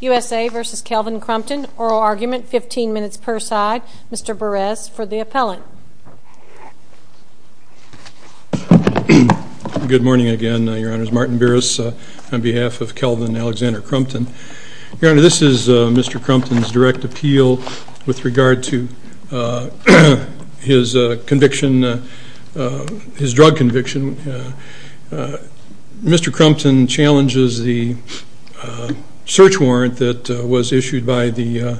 U.S.A. v. Kelvin Crumpton. Oral argument, 15 minutes per side. Mr. Burress, for the appellant. Good morning again, Your Honor. It's Martin Burress on behalf of Kelvin Alexander Crumpton. Your Honor, this is Mr. Crumpton's direct appeal with regard to his conviction, his drug conviction. Mr. Crumpton challenges the search warrant that was issued by the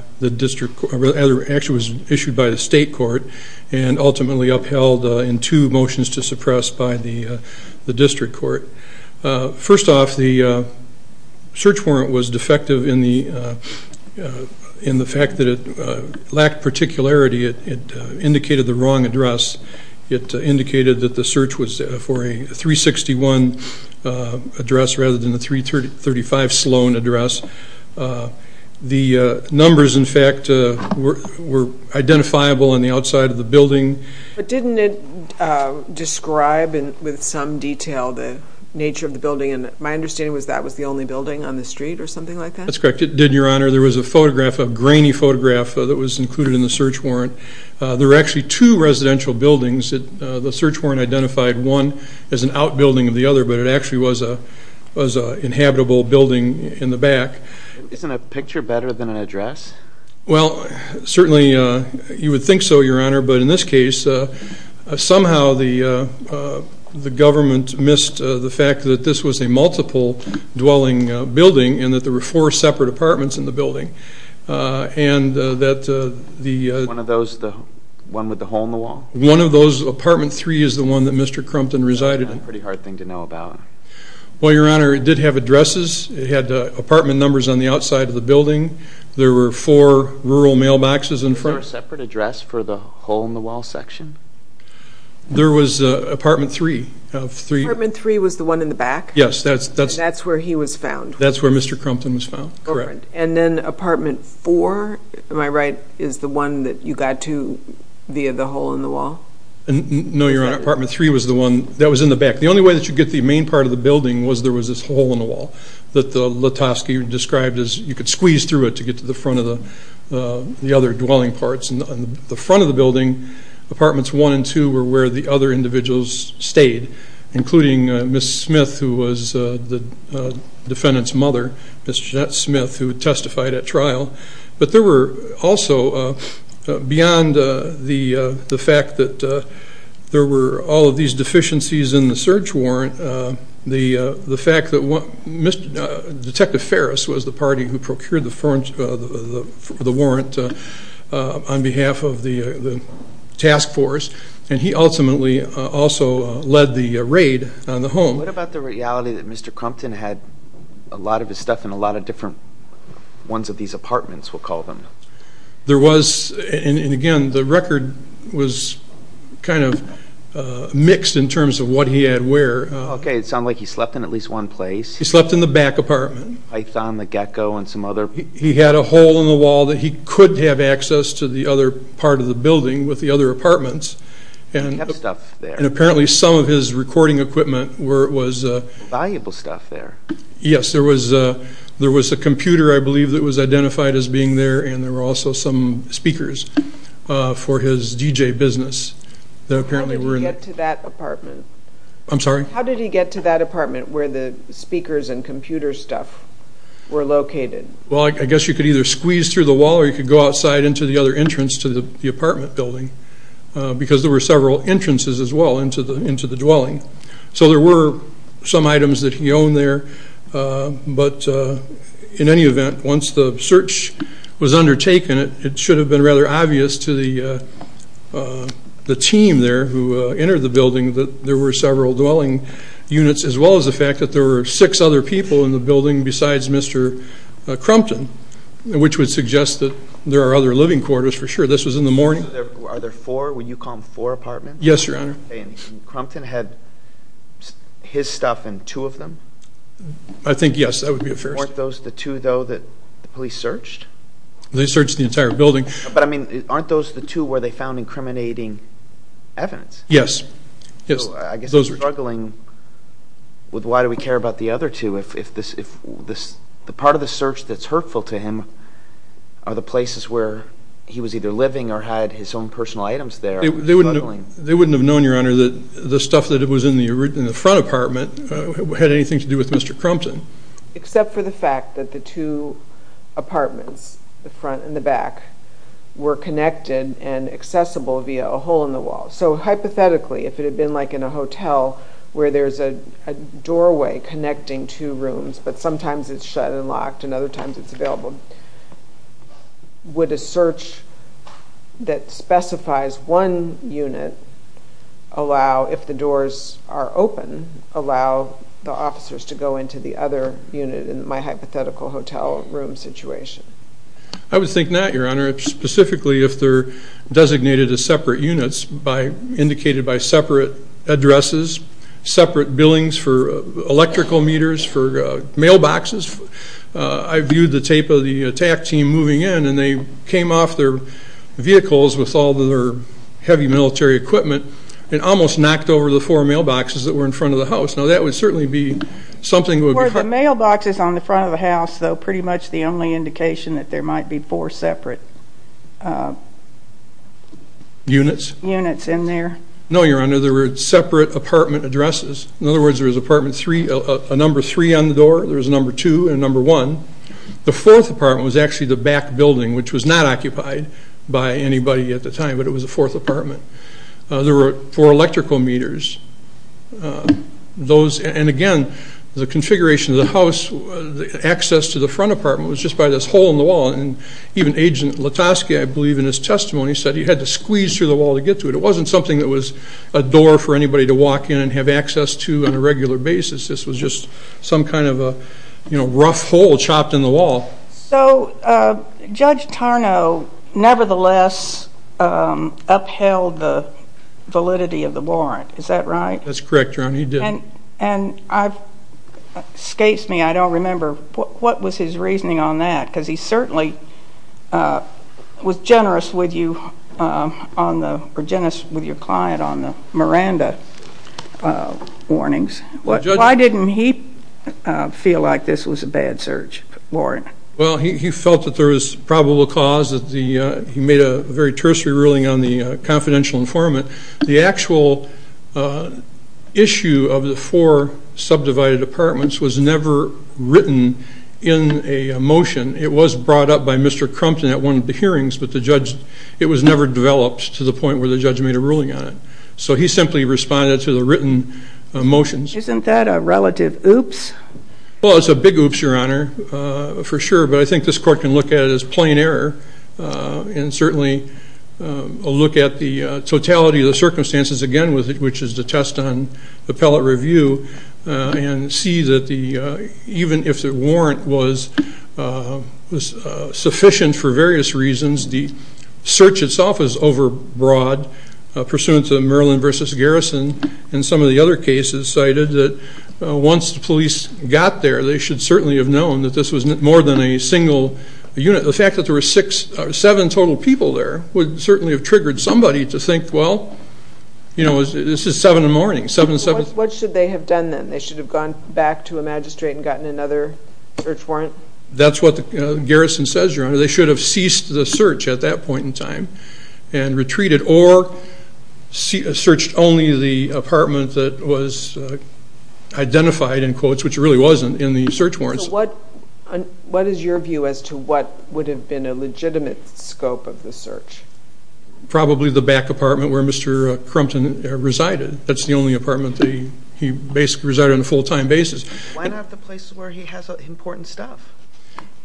state court and ultimately upheld in two motions to suppress by the district court. First off, the search warrant was defective in the fact that it lacked particularity. It indicated the wrong address. It indicated that the search was for a 361 address rather than a 335 Sloan address. The numbers, in fact, were identifiable on the outside of the building. But didn't it describe with some detail the nature of the building? And my understanding was that was the only building on the street or something like that? That's correct. It did, Your Honor. There was a photograph, a grainy photograph, that was included in the search warrant. There were actually two residential buildings. The search warrant identified one as an outbuilding of the other, but it actually was an inhabitable building in the back. Isn't a picture better than an address? Well, certainly you would think so, Your Honor, but in this case, somehow the government missed the fact that this was a multiple-dwelling building and that there were four separate apartments in the building. One with the hole in the wall? One of those. Apartment 3 is the one that Mr. Crumpton resided in. That's a pretty hard thing to know about. Well, Your Honor, it did have addresses. It had apartment numbers on the outside of the building. There were four rural mailboxes in front. Was there a separate address for the hole-in-the-wall section? There was apartment 3. Apartment 3 was the one in the back? Yes. And that's where he was found? That's where Mr. Crumpton was found, correct. And then apartment 4, am I right, is the one that you got to via the hole-in-the-wall? No, Your Honor. Apartment 3 was the one that was in the back. The only way that you could get to the main part of the building was there was this hole-in-the-wall that the Letovsky described as you could squeeze through it to get to the front of the other dwelling parts. On the front of the building, apartments 1 and 2 were where the other individuals stayed, including Ms. Smith, who was the defendant's mother, Ms. Jeanette Smith, who testified at trial. But there were also, beyond the fact that there were all of these deficiencies in the search warrant, the fact that Detective Ferris was the party who procured the warrant on behalf of the task force, and he ultimately also led the raid on the home. What about the reality that Mr. Crumpton had a lot of his stuff in a lot of different ones of these apartments, we'll call them? There was, and again, the record was kind of mixed in terms of what he had where. Okay, it sounds like he slept in at least one place. He slept in the back apartment. Python, the Gecko, and some other? He had a hole-in-the-wall that he could have access to the other part of the building with the other apartments. He had stuff there. And apparently some of his recording equipment was... Valuable stuff there. Yes, there was a computer, I believe, that was identified as being there, and there were also some speakers for his DJ business that apparently were... How did he get to that apartment? I'm sorry? How did he get to that apartment where the speakers and computer stuff were located? Well, I guess you could either squeeze through the wall or you could go outside into the other entrance to the apartment building because there were several entrances as well into the dwelling. So there were some items that he owned there, but in any event, once the search was undertaken, it should have been rather obvious to the team there who entered the building that there were several dwelling units, as well as the fact that there were six other people in the building besides Mr. Crumpton, which would suggest that there are other living quarters for sure. This was in the morning. Would you call them four apartments? Yes, Your Honor. And Crumpton had his stuff and two of them? I think, yes, that would be a first. Weren't those the two, though, that the police searched? They searched the entire building. But, I mean, aren't those the two where they found incriminating evidence? Yes. So I guess they're struggling with why do we care about the other two if the part of the search that's hurtful to him are the places where he was either living or had his own personal items there. They wouldn't have known, Your Honor, that the stuff that was in the front apartment had anything to do with Mr. Crumpton. Except for the fact that the two apartments, the front and the back, were connected and accessible via a hole in the wall. So, hypothetically, if it had been like in a hotel where there's a doorway connecting two rooms, but sometimes it's shut and locked and other times it's available, would a search that specifies one unit allow, if the doors are open, allow the officers to go into the other unit in my hypothetical hotel room situation? I would think not, Your Honor. Specifically, if they're designated as separate units, indicated by separate addresses, separate billings for electrical meters, for mailboxes. I viewed the tape of the attack team moving in and they came off their vehicles with all their heavy military equipment and almost knocked over the four mailboxes that were in front of the house. Now, that would certainly be something that would be... Were the mailboxes on the front of the house, though, pretty much the only indication that there might be four separate... Units? Units in there. No, Your Honor, there were separate apartment addresses. In other words, there was apartment three, a number three on the door, there was a number two and a number one. The fourth apartment was actually the back building, which was not occupied by anybody at the time, but it was the fourth apartment. There were four electrical meters. Those... And again, the configuration of the house, the access to the front apartment was just by this hole in the wall, and even Agent Latosky, I believe in his testimony, said he had to squeeze through the wall to get to it. It wasn't something that was a door for anybody to walk in and have access to on a regular basis. This was just some kind of a rough hole chopped in the wall. So Judge Tarnow nevertheless upheld the validity of the warrant. Is that right? That's correct, Your Honor, he did. And I've... Escapes me, I don't remember, what was his reasoning on that? Because he certainly was generous with you on the... Or generous with your client on the Miranda warnings. Why didn't he feel like this was a bad search warrant? Well, he felt that there was probable cause. He made a very tertiary ruling on the confidential informant. The actual issue of the four subdivided apartments was never written in a motion. It was brought up by Mr. Crumpton at one of the hearings, but it was never developed to the point where the judge made a ruling on it. So he simply responded to the written motions. Isn't that a relative oops? Well, it's a big oops, Your Honor, for sure. But I think this court can look at it as plain error and certainly look at the totality of the circumstances again, which is the test on appellate review, and see that even if the warrant was sufficient for various reasons, the search itself is overbroad pursuant to Merlin v. Garrison and some of the other cases cited that once the police got there, they should certainly have known that this was more than a single unit. The fact that there were seven total people there would certainly have triggered somebody to think, well, this is seven in the morning. What should they have done then? They should have gone back to a magistrate and gotten another search warrant? That's what Garrison says, Your Honor. They should have ceased the search at that point in time and retreated or searched only the apartment that was identified in quotes, which it really wasn't, in the search warrants. So what is your view as to what would have been a legitimate scope of the search? Probably the back apartment where Mr. Crumpton resided. That's the only apartment that he basically resided on a full-time basis. Why not the place where he has important stuff?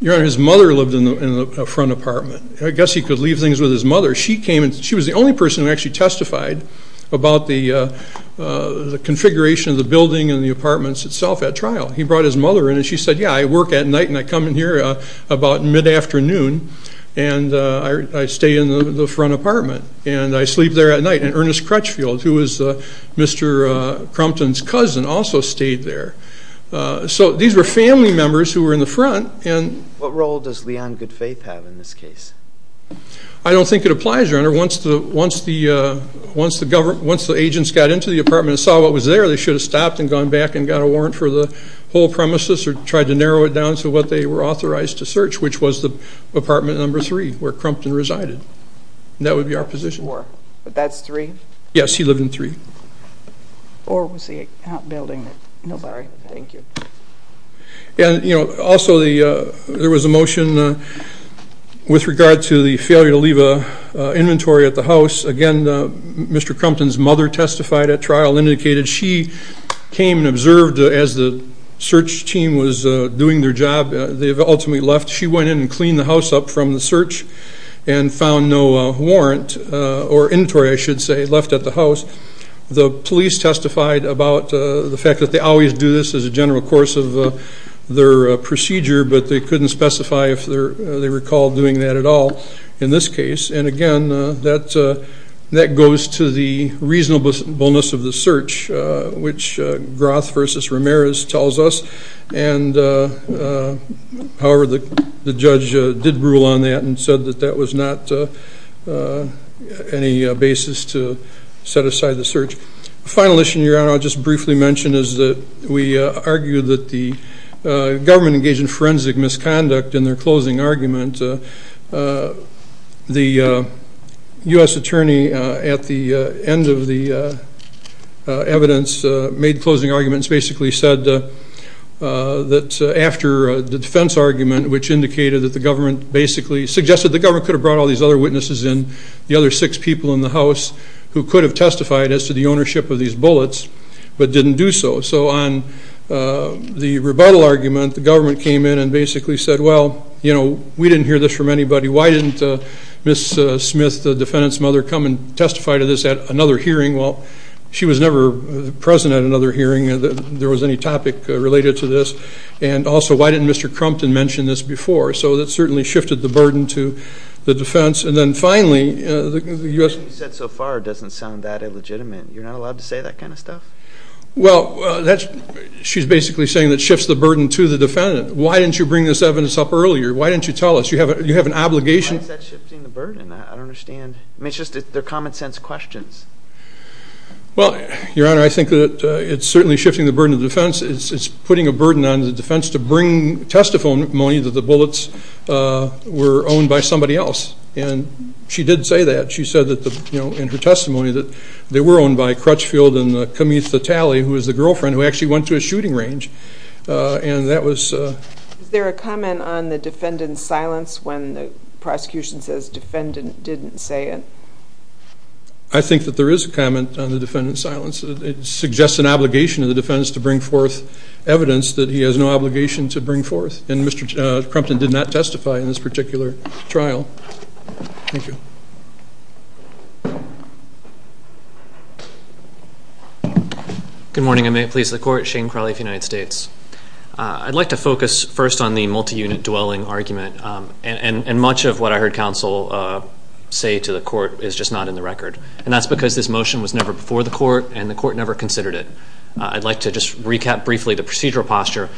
Your Honor, his mother lived in the front apartment. I guess he could leave things with his mother. She was the only person who actually testified about the configuration of the building and the apartments itself at trial. He brought his mother in and she said, yeah, I work at night and I come in here about mid-afternoon and I stay in the front apartment and I sleep there at night. And Ernest Crutchfield, who was Mr. Crumpton's cousin, also stayed there. So these were family members who were in the front. What role does Leon Goodfaith have in this case? I don't think it applies, Your Honor. Once the agents got into the apartment and saw what was there, they should have stopped and gone back and got a warrant for the whole premises or tried to narrow it down to what they were authorized to search, which was the apartment number three where Crumpton resided. That would be our position. But that's three? Yes, he lived in three. Or was he out building? Sorry. Thank you. Also, there was a motion with regard to the failure to leave an inventory at the house. Again, Mr. Crumpton's mother testified at trial and indicated she came and observed as the search team was doing their job. They had ultimately left. She went in and cleaned the house up from the search and found no warrant or inventory, I should say, left at the house. The police testified about the fact that they always do this as a general course of their procedure, but they couldn't specify if they recall doing that at all in this case. And, again, that goes to the reasonableness of the search, which Groth v. Ramirez tells us. However, the judge did rule on that and said that that was not any basis to set aside the search. The final issue, Your Honor, I'll just briefly mention, is that we argue that the government engaged in forensic misconduct in their closing argument. The U.S. attorney at the end of the evidence made closing arguments, basically said that after the defense argument, which indicated that the government basically suggested the government could have brought all these other witnesses in, the other six people in the house who could have testified as to the ownership of these bullets, but didn't do so. So on the rebuttal argument, the government came in and basically said, well, you know, we didn't hear this from anybody. Why didn't Ms. Smith, the defendant's mother, come and testify to this at another hearing? Well, she was never present at another hearing. There was any topic related to this. And, also, why didn't Mr. Crumpton mention this before? So that certainly shifted the burden to the defense. And then, finally, the U.S. What you've said so far doesn't sound that illegitimate. You're not allowed to say that kind of stuff? Well, she's basically saying that shifts the burden to the defendant. Why didn't you bring this evidence up earlier? Why didn't you tell us? You have an obligation. Why is that shifting the burden? I don't understand. I mean, it's just they're common-sense questions. Well, Your Honor, I think that it's certainly shifting the burden to the defense. It's putting a burden on the defense to bring testimony that the bullets were owned by somebody else. And she did say that. She said in her testimony that they were owned by Crutchfield and Cametha Talley, who was the girlfriend who actually went to a shooting range. And that was – Is there a comment on the defendant's silence when the prosecution says defendant didn't say it? I think that there is a comment on the defendant's silence. It suggests an obligation of the defense to bring forth evidence that he has no obligation to bring forth. And Mr. Crumpton did not testify in this particular trial. Thank you. Good morning. I'm a police of the court, Shane Crowley of the United States. I'd like to focus first on the multi-unit dwelling argument. And much of what I heard counsel say to the court is just not in the record. And that's because this motion was never before the court, and the court never considered it. I'd like to just recap briefly the procedural posture.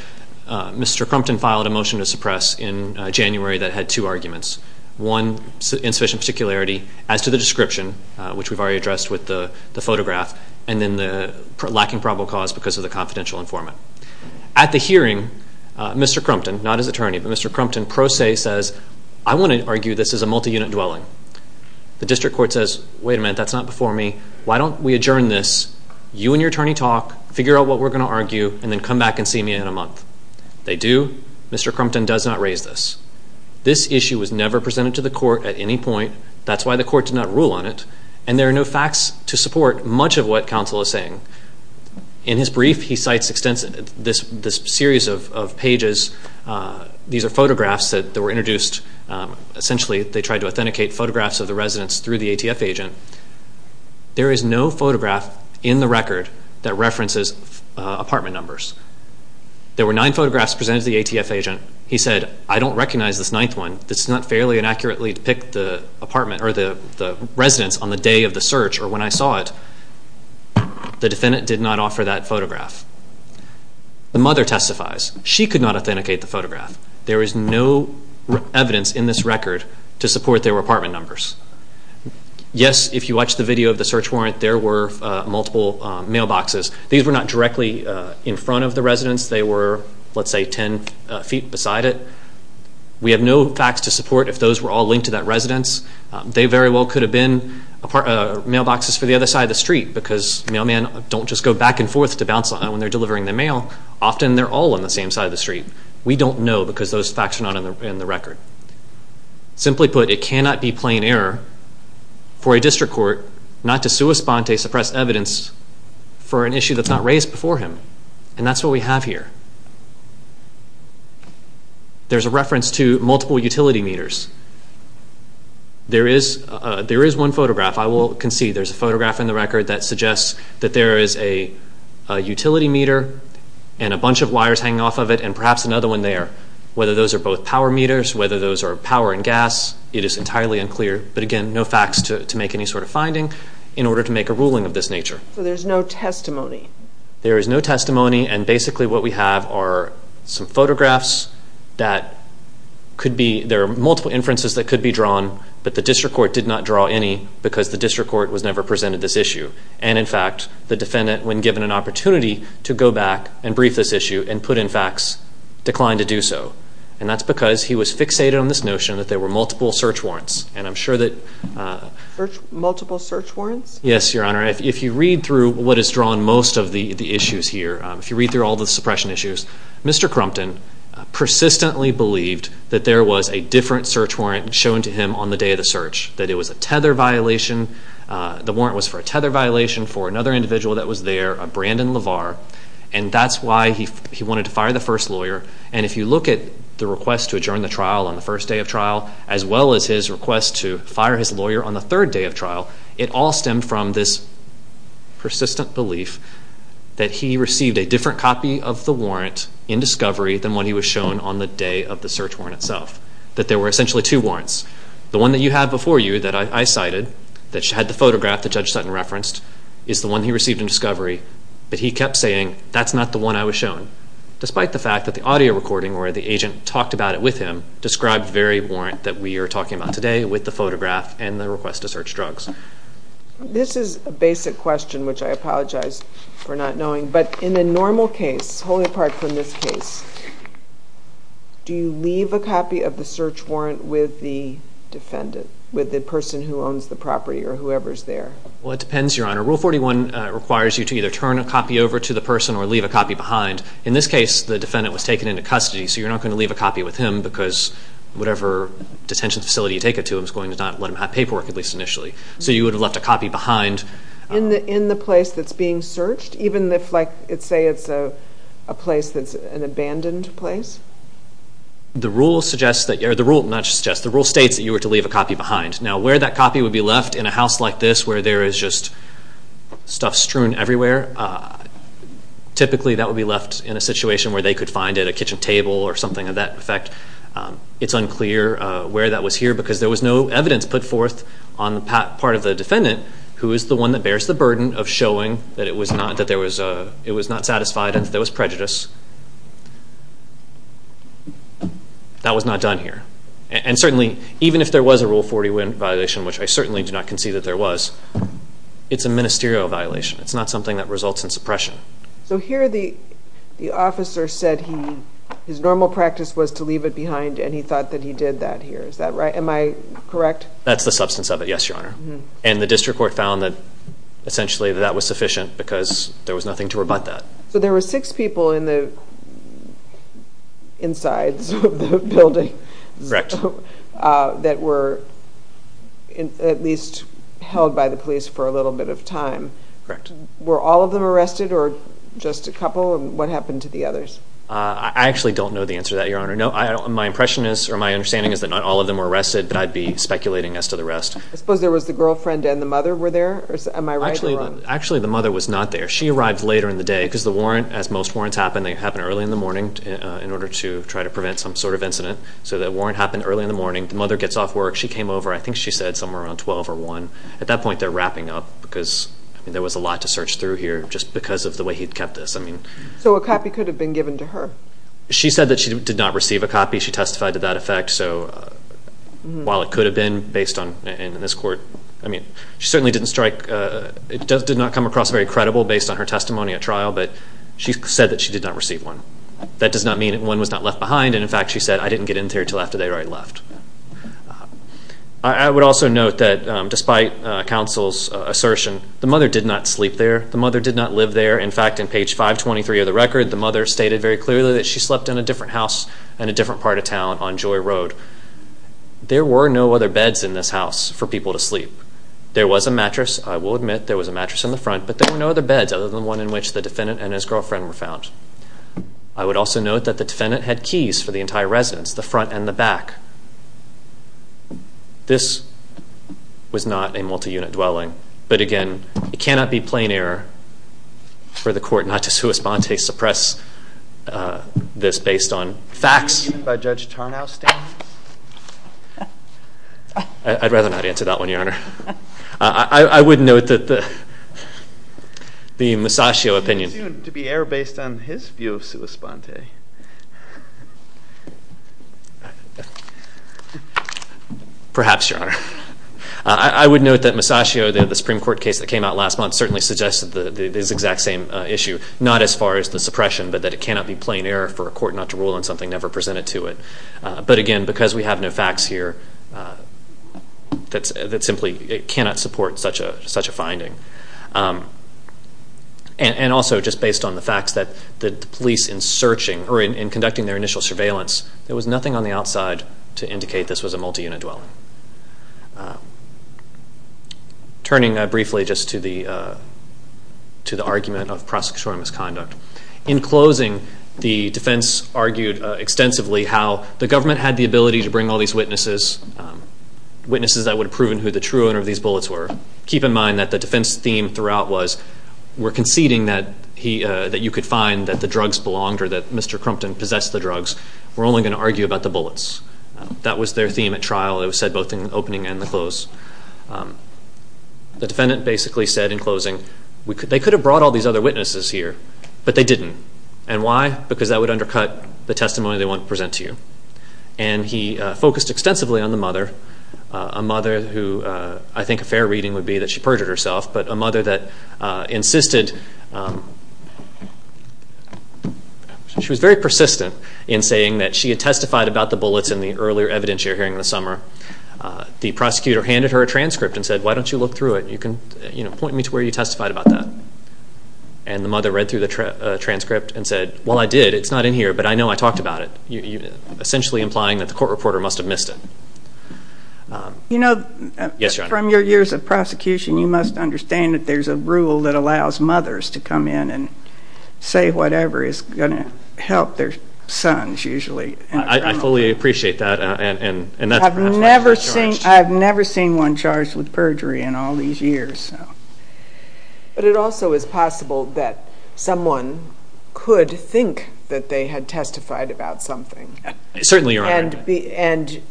Mr. Crumpton filed a motion to suppress in January that had two arguments. One, insufficient particularity as to the description, which we've already addressed with the photograph, and then the lacking probable cause because of the confidential informant. At the hearing, Mr. Crumpton, not his attorney, but Mr. Crumpton pro se says, I want to argue this is a multi-unit dwelling. The district court says, wait a minute, that's not before me. Why don't we adjourn this, you and your attorney talk, figure out what we're going to argue, and then come back and see me in a month. They do. Mr. Crumpton does not raise this. This issue was never presented to the court at any point. That's why the court did not rule on it. And there are no facts to support much of what counsel is saying. In his brief, he cites this series of pages. These are photographs that were introduced. Essentially they tried to authenticate photographs of the residents through the ATF agent. There is no photograph in the record that references apartment numbers. There were nine photographs presented to the ATF agent. He said, I don't recognize this ninth one. This does not fairly and accurately depict the apartment or the residents on the day of the search or when I saw it. The defendant did not offer that photograph. The mother testifies. She could not authenticate the photograph. There is no evidence in this record to support there were apartment numbers. Yes, if you watch the video of the search warrant, there were multiple mailboxes. These were not directly in front of the residents. They were, let's say, ten feet beside it. We have no facts to support if those were all linked to that residence. They very well could have been mailboxes for the other side of the street because mailmen don't just go back and forth to bounce when they're delivering the mail. Often they're all on the same side of the street. We don't know because those facts are not in the record. Simply put, it cannot be plain error for a district court not to sui sponte suppress evidence for an issue that's not raised before him. And that's what we have here. There's a reference to multiple utility meters. There is one photograph. I will concede there's a photograph in the record that suggests that there is a utility meter and a bunch of wires hanging off of it and perhaps another one there. Whether those are both power meters, whether those are power and gas, it is entirely unclear. But again, no facts to make any sort of finding in order to make a ruling of this nature. So there's no testimony? There is no testimony, and basically what we have are some photographs that could be there are multiple inferences that could be drawn, but the district court did not draw any because the district court was never presented this issue. And, in fact, the defendant, when given an opportunity to go back and brief this issue and put in facts, declined to do so. And that's because he was fixated on this notion that there were multiple search warrants. And I'm sure that... Multiple search warrants? Yes, Your Honor. If you read through what is drawn most of the issues here, if you read through all the suppression issues, Mr. Crumpton persistently believed that there was a different search warrant shown to him on the day of the search, that it was a tether violation. The warrant was for a tether violation for another individual that was there, a Brandon LaVar, and that's why he wanted to fire the first lawyer. And if you look at the request to adjourn the trial on the first day of trial, as well as his request to fire his lawyer on the third day of trial, it all stemmed from this persistent belief that he received a different copy of the warrant in discovery than when he was shown on the day of the search warrant itself, that there were essentially two warrants. The one that you have before you that I cited, that had the photograph that Judge Sutton referenced, is the one he received in discovery, but he kept saying, that's not the one I was shown, despite the fact that the audio recording or the agent talked about it with him, described the very warrant that we are talking about today with the photograph and the request to search drugs. This is a basic question, which I apologize for not knowing, but in a normal case, wholly apart from this case, do you leave a copy of the search warrant with the defendant, with the person who owns the property or whoever's there? Well, it depends, Your Honor. Rule 41 requires you to either turn a copy over to the person or leave a copy behind. In this case, the defendant was taken into custody, so you're not going to leave a copy with him because whatever detention facility you take it to, it's going to not let him have paperwork, at least initially. So you would have left a copy behind. In the place that's being searched? Even if, say, it's a place that's an abandoned place? The rule states that you were to leave a copy behind. Now, where that copy would be left, in a house like this, where there is just stuff strewn everywhere, typically that would be left in a situation where they could find it, a kitchen table or something of that effect. It's unclear where that was here because there was no evidence put forth on the part of the defendant who is the one that bears the burden of showing that it was not satisfied and that there was prejudice. That was not done here. And certainly, even if there was a Rule 41 violation, which I certainly do not concede that there was, it's a ministerial violation. It's not something that results in suppression. So here the officer said his normal practice was to leave it behind and he thought that he did that here, is that right? Am I correct? That's the substance of it, yes, Your Honor. And the district court found that essentially that was sufficient because there was nothing to rebut that. So there were six people in the insides of the building that were at least held by the police for a little bit of time. Correct. Were all of them arrested or just a couple? And what happened to the others? I actually don't know the answer to that, Your Honor. My impression is or my understanding is that not all of them were arrested, but I'd be speculating as to the rest. I suppose there was the girlfriend and the mother were there? Am I right or wrong? Actually, the mother was not there. She arrived later in the day because the warrant, as most warrants happen, they happen early in the morning in order to try to prevent some sort of incident. So the warrant happened early in the morning. The mother gets off work. She came over. I think she said somewhere around 12 or 1. At that point, they're wrapping up because there was a lot to search through here just because of the way he'd kept this. So a copy could have been given to her? She said that she did not receive a copy. She testified to that effect. So while it could have been based on this court, I mean she certainly didn't strike, it did not come across very credible based on her testimony at trial, but she said that she did not receive one. That does not mean that one was not left behind. And, in fact, she said, I didn't get in there until after they'd already left. I would also note that despite counsel's assertion, the mother did not sleep there. The mother did not live there. In fact, in page 523 of the record, the mother stated very clearly that she slept in a different house in a different part of town on Joy Road. There were no other beds in this house for people to sleep. There was a mattress. I will admit there was a mattress in the front, but there were no other beds other than the one in which the defendant and his girlfriend were found. I would also note that the defendant had keys for the entire residence, the front and the back. This was not a multi-unit dwelling. But, again, it cannot be plain error for the court not to sui sponte, suppress this based on facts. Even by Judge Tarnow's standards? I'd rather not answer that one, Your Honor. I would note that the Musascio opinion. It's assumed to be error based on his view of sui sponte. Perhaps, Your Honor. I would note that Musascio, the Supreme Court case that came out last month, certainly suggested this exact same issue, not as far as the suppression, but that it cannot be plain error for a court not to rule on something never presented to it. But, again, because we have no facts here, it simply cannot support such a finding. And also, just based on the facts, that the police in conducting their initial surveillance, there was nothing on the outside to indicate this was a multi-unit dwelling. Turning briefly just to the argument of prosecutorial misconduct. In closing, the defense argued extensively how the government had the ability to bring all these witnesses, witnesses that would have proven who the true owner of these bullets were. Keep in mind that the defense theme throughout was, we're conceding that you could find that the drugs belonged or that Mr. Crumpton possessed the drugs. We're only going to argue about the bullets. That was their theme at trial. It was said both in the opening and the close. The defendant basically said in closing, they could have brought all these other witnesses here, but they didn't. And why? Because that would undercut the testimony they wanted to present to you. And he focused extensively on the mother, a mother who I think a fair reading would be that she perjured herself, but a mother that insisted, she was very persistent in saying that she had testified about the bullets in the earlier evidence you're hearing this summer. The prosecutor handed her a transcript and said, why don't you look through it? You can point me to where you testified about that. And the mother read through the transcript and said, well, I did. It's not in here, but I know I talked about it, essentially implying that the court reporter must have missed it. You know, from your years of prosecution, you must understand that there's a rule that allows mothers to come in and say whatever is going to help their sons usually. I fully appreciate that. I've never seen one charged with perjury in all these years. But it also is possible that someone could think that they had testified about something. Certainly, Your Honor. And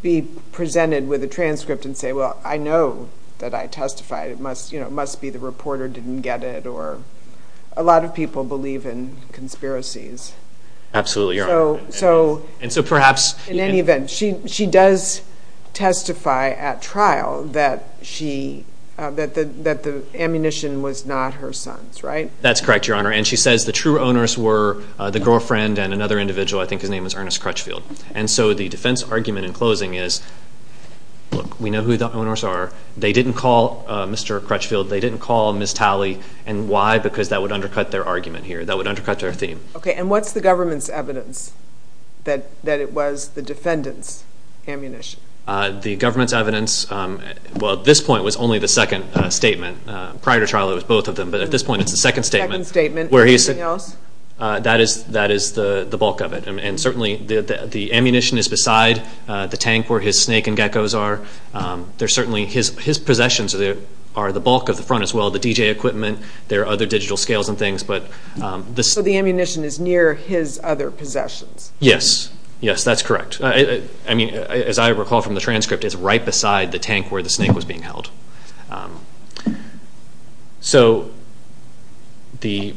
be presented with a transcript and say, well, I know that I testified. It must be the reporter didn't get it, or a lot of people believe in conspiracies. Absolutely, Your Honor. So in any event, she does testify at trial that the ammunition was not her son's, right? That's correct, Your Honor. And she says the true owners were the girlfriend and another individual. I think his name was Ernest Crutchfield. And so the defense argument in closing is, look, we know who the owners are. They didn't call Mr. Crutchfield. They didn't call Ms. Talley. And why? Because that would undercut their argument here. That would undercut their theme. Okay. And what's the government's evidence that it was the defendant's ammunition? The government's evidence, well, at this point, was only the second statement. Prior to trial, it was both of them. But at this point, it's the second statement. Second statement. Anything else? That is the bulk of it. And certainly the ammunition is beside the tank where his snake and geckos are. There's certainly his possessions are the bulk of the front as well, the DJ equipment. There are other digital scales and things. So the ammunition is near his other possessions? Yes. Yes, that's correct. I mean, as I recall from the transcript, it's right beside the tank where the snake was being held. So the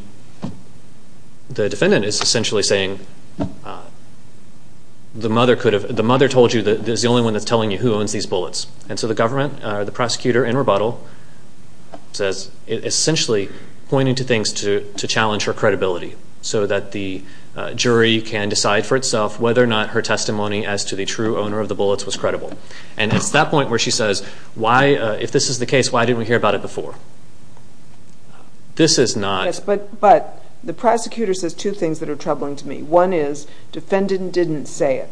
defendant is essentially saying the mother told you that there's the only one that's telling you who owns these bullets. And so the government, the prosecutor in rebuttal, says essentially pointing to things to challenge her credibility so that the jury can decide for itself whether or not her testimony as to the true owner of the bullets was credible. And it's that point where she says, if this is the case, why didn't we hear about it before? This is not. Yes, but the prosecutor says two things that are troubling to me. One is defendant didn't say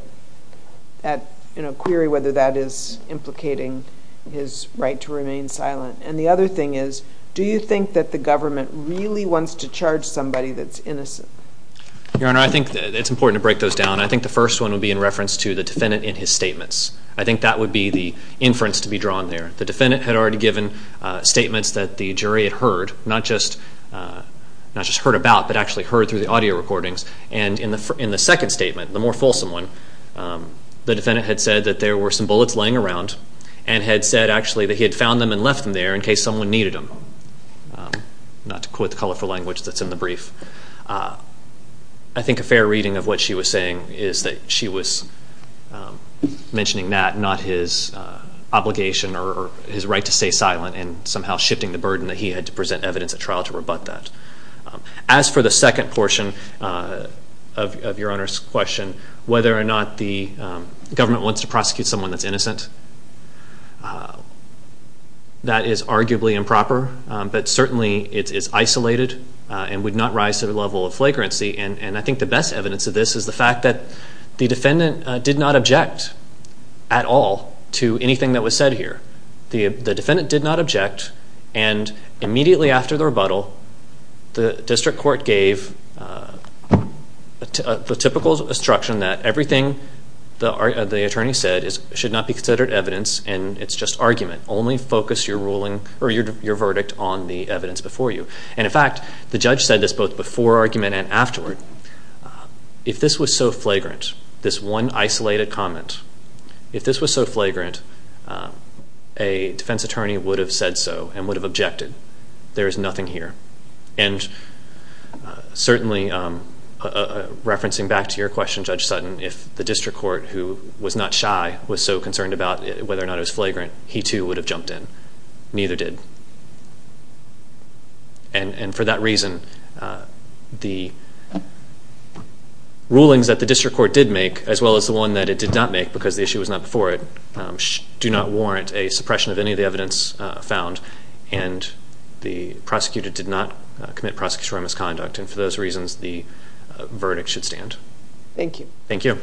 it, in a query whether that is implicating his right to remain silent. And the other thing is, do you think that the government really wants to charge somebody that's innocent? Your Honor, I think it's important to break those down. I think the first one would be in reference to the defendant in his statements. I think that would be the inference to be drawn there. The defendant had already given statements that the jury had heard, not just heard about, but actually heard through the audio recordings. And in the second statement, the more fulsome one, the defendant had said that there were some bullets laying around and had said actually that he had found them and left them there in case someone needed them. Not to quote the colorful language that's in the brief. I think a fair reading of what she was saying is that she was mentioning that, not his obligation or his right to stay silent and somehow shifting the burden that he had to present evidence at trial to rebut that. As for the second portion of Your Honor's question, whether or not the government wants to prosecute someone that's innocent, that is arguably improper, but certainly it is isolated and would not rise to the level of flagrancy. And I think the best evidence of this is the fact that the defendant did not object at all to anything that was said here. The defendant did not object, and immediately after the rebuttal, the district court gave the typical instruction that everything the attorney said should not be considered evidence and it's just argument. Only focus your verdict on the evidence before you. And in fact, the judge said this both before argument and afterward. If this was so flagrant, this one isolated comment, if this was so flagrant, a defense attorney would have said so and would have objected. There is nothing here. And certainly, referencing back to your question, Judge Sutton, if the district court, who was not shy, was so concerned about whether or not it was flagrant, he too would have jumped in. Neither did. And for that reason, the rulings that the district court did make, as well as the one that it did not make, because the issue was not before it, do not warrant a suppression of any of the evidence found, and the prosecutor did not commit prosecutorial misconduct. And for those reasons, the verdict should stand. Thank you. Thank you.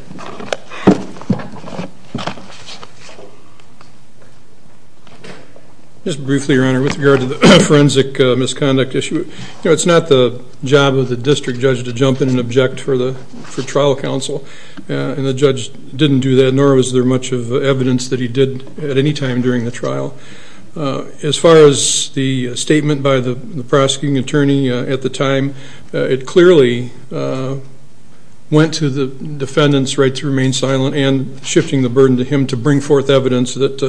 Just briefly, Your Honor, with regard to the forensic misconduct issue, it's not the job of the district judge to jump in and object for trial counsel. And the judge didn't do that, nor was there much of evidence that he did at any time during the trial. As far as the statement by the prosecuting attorney at the time, it clearly went to the defendant's right to remain silent and shifting the burden to him to bring forth evidence that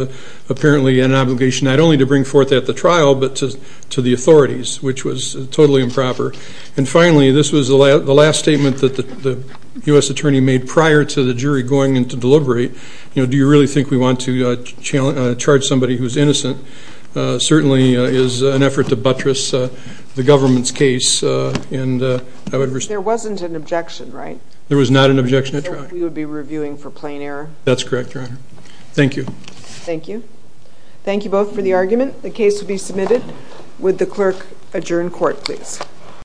apparently had an obligation not only to bring forth at the trial, but to the authorities, which was totally improper. And finally, this was the last statement that the U.S. attorney made prior to the jury going in to deliberate. You know, do you really think we want to charge somebody who's innocent? Certainly is an effort to buttress the government's case. There wasn't an objection, right? There was not an objection at trial. We would be reviewing for plain error? That's correct, Your Honor. Thank you. Thank you. Thank you both for the argument. The case will be submitted. Would the clerk adjourn court, please?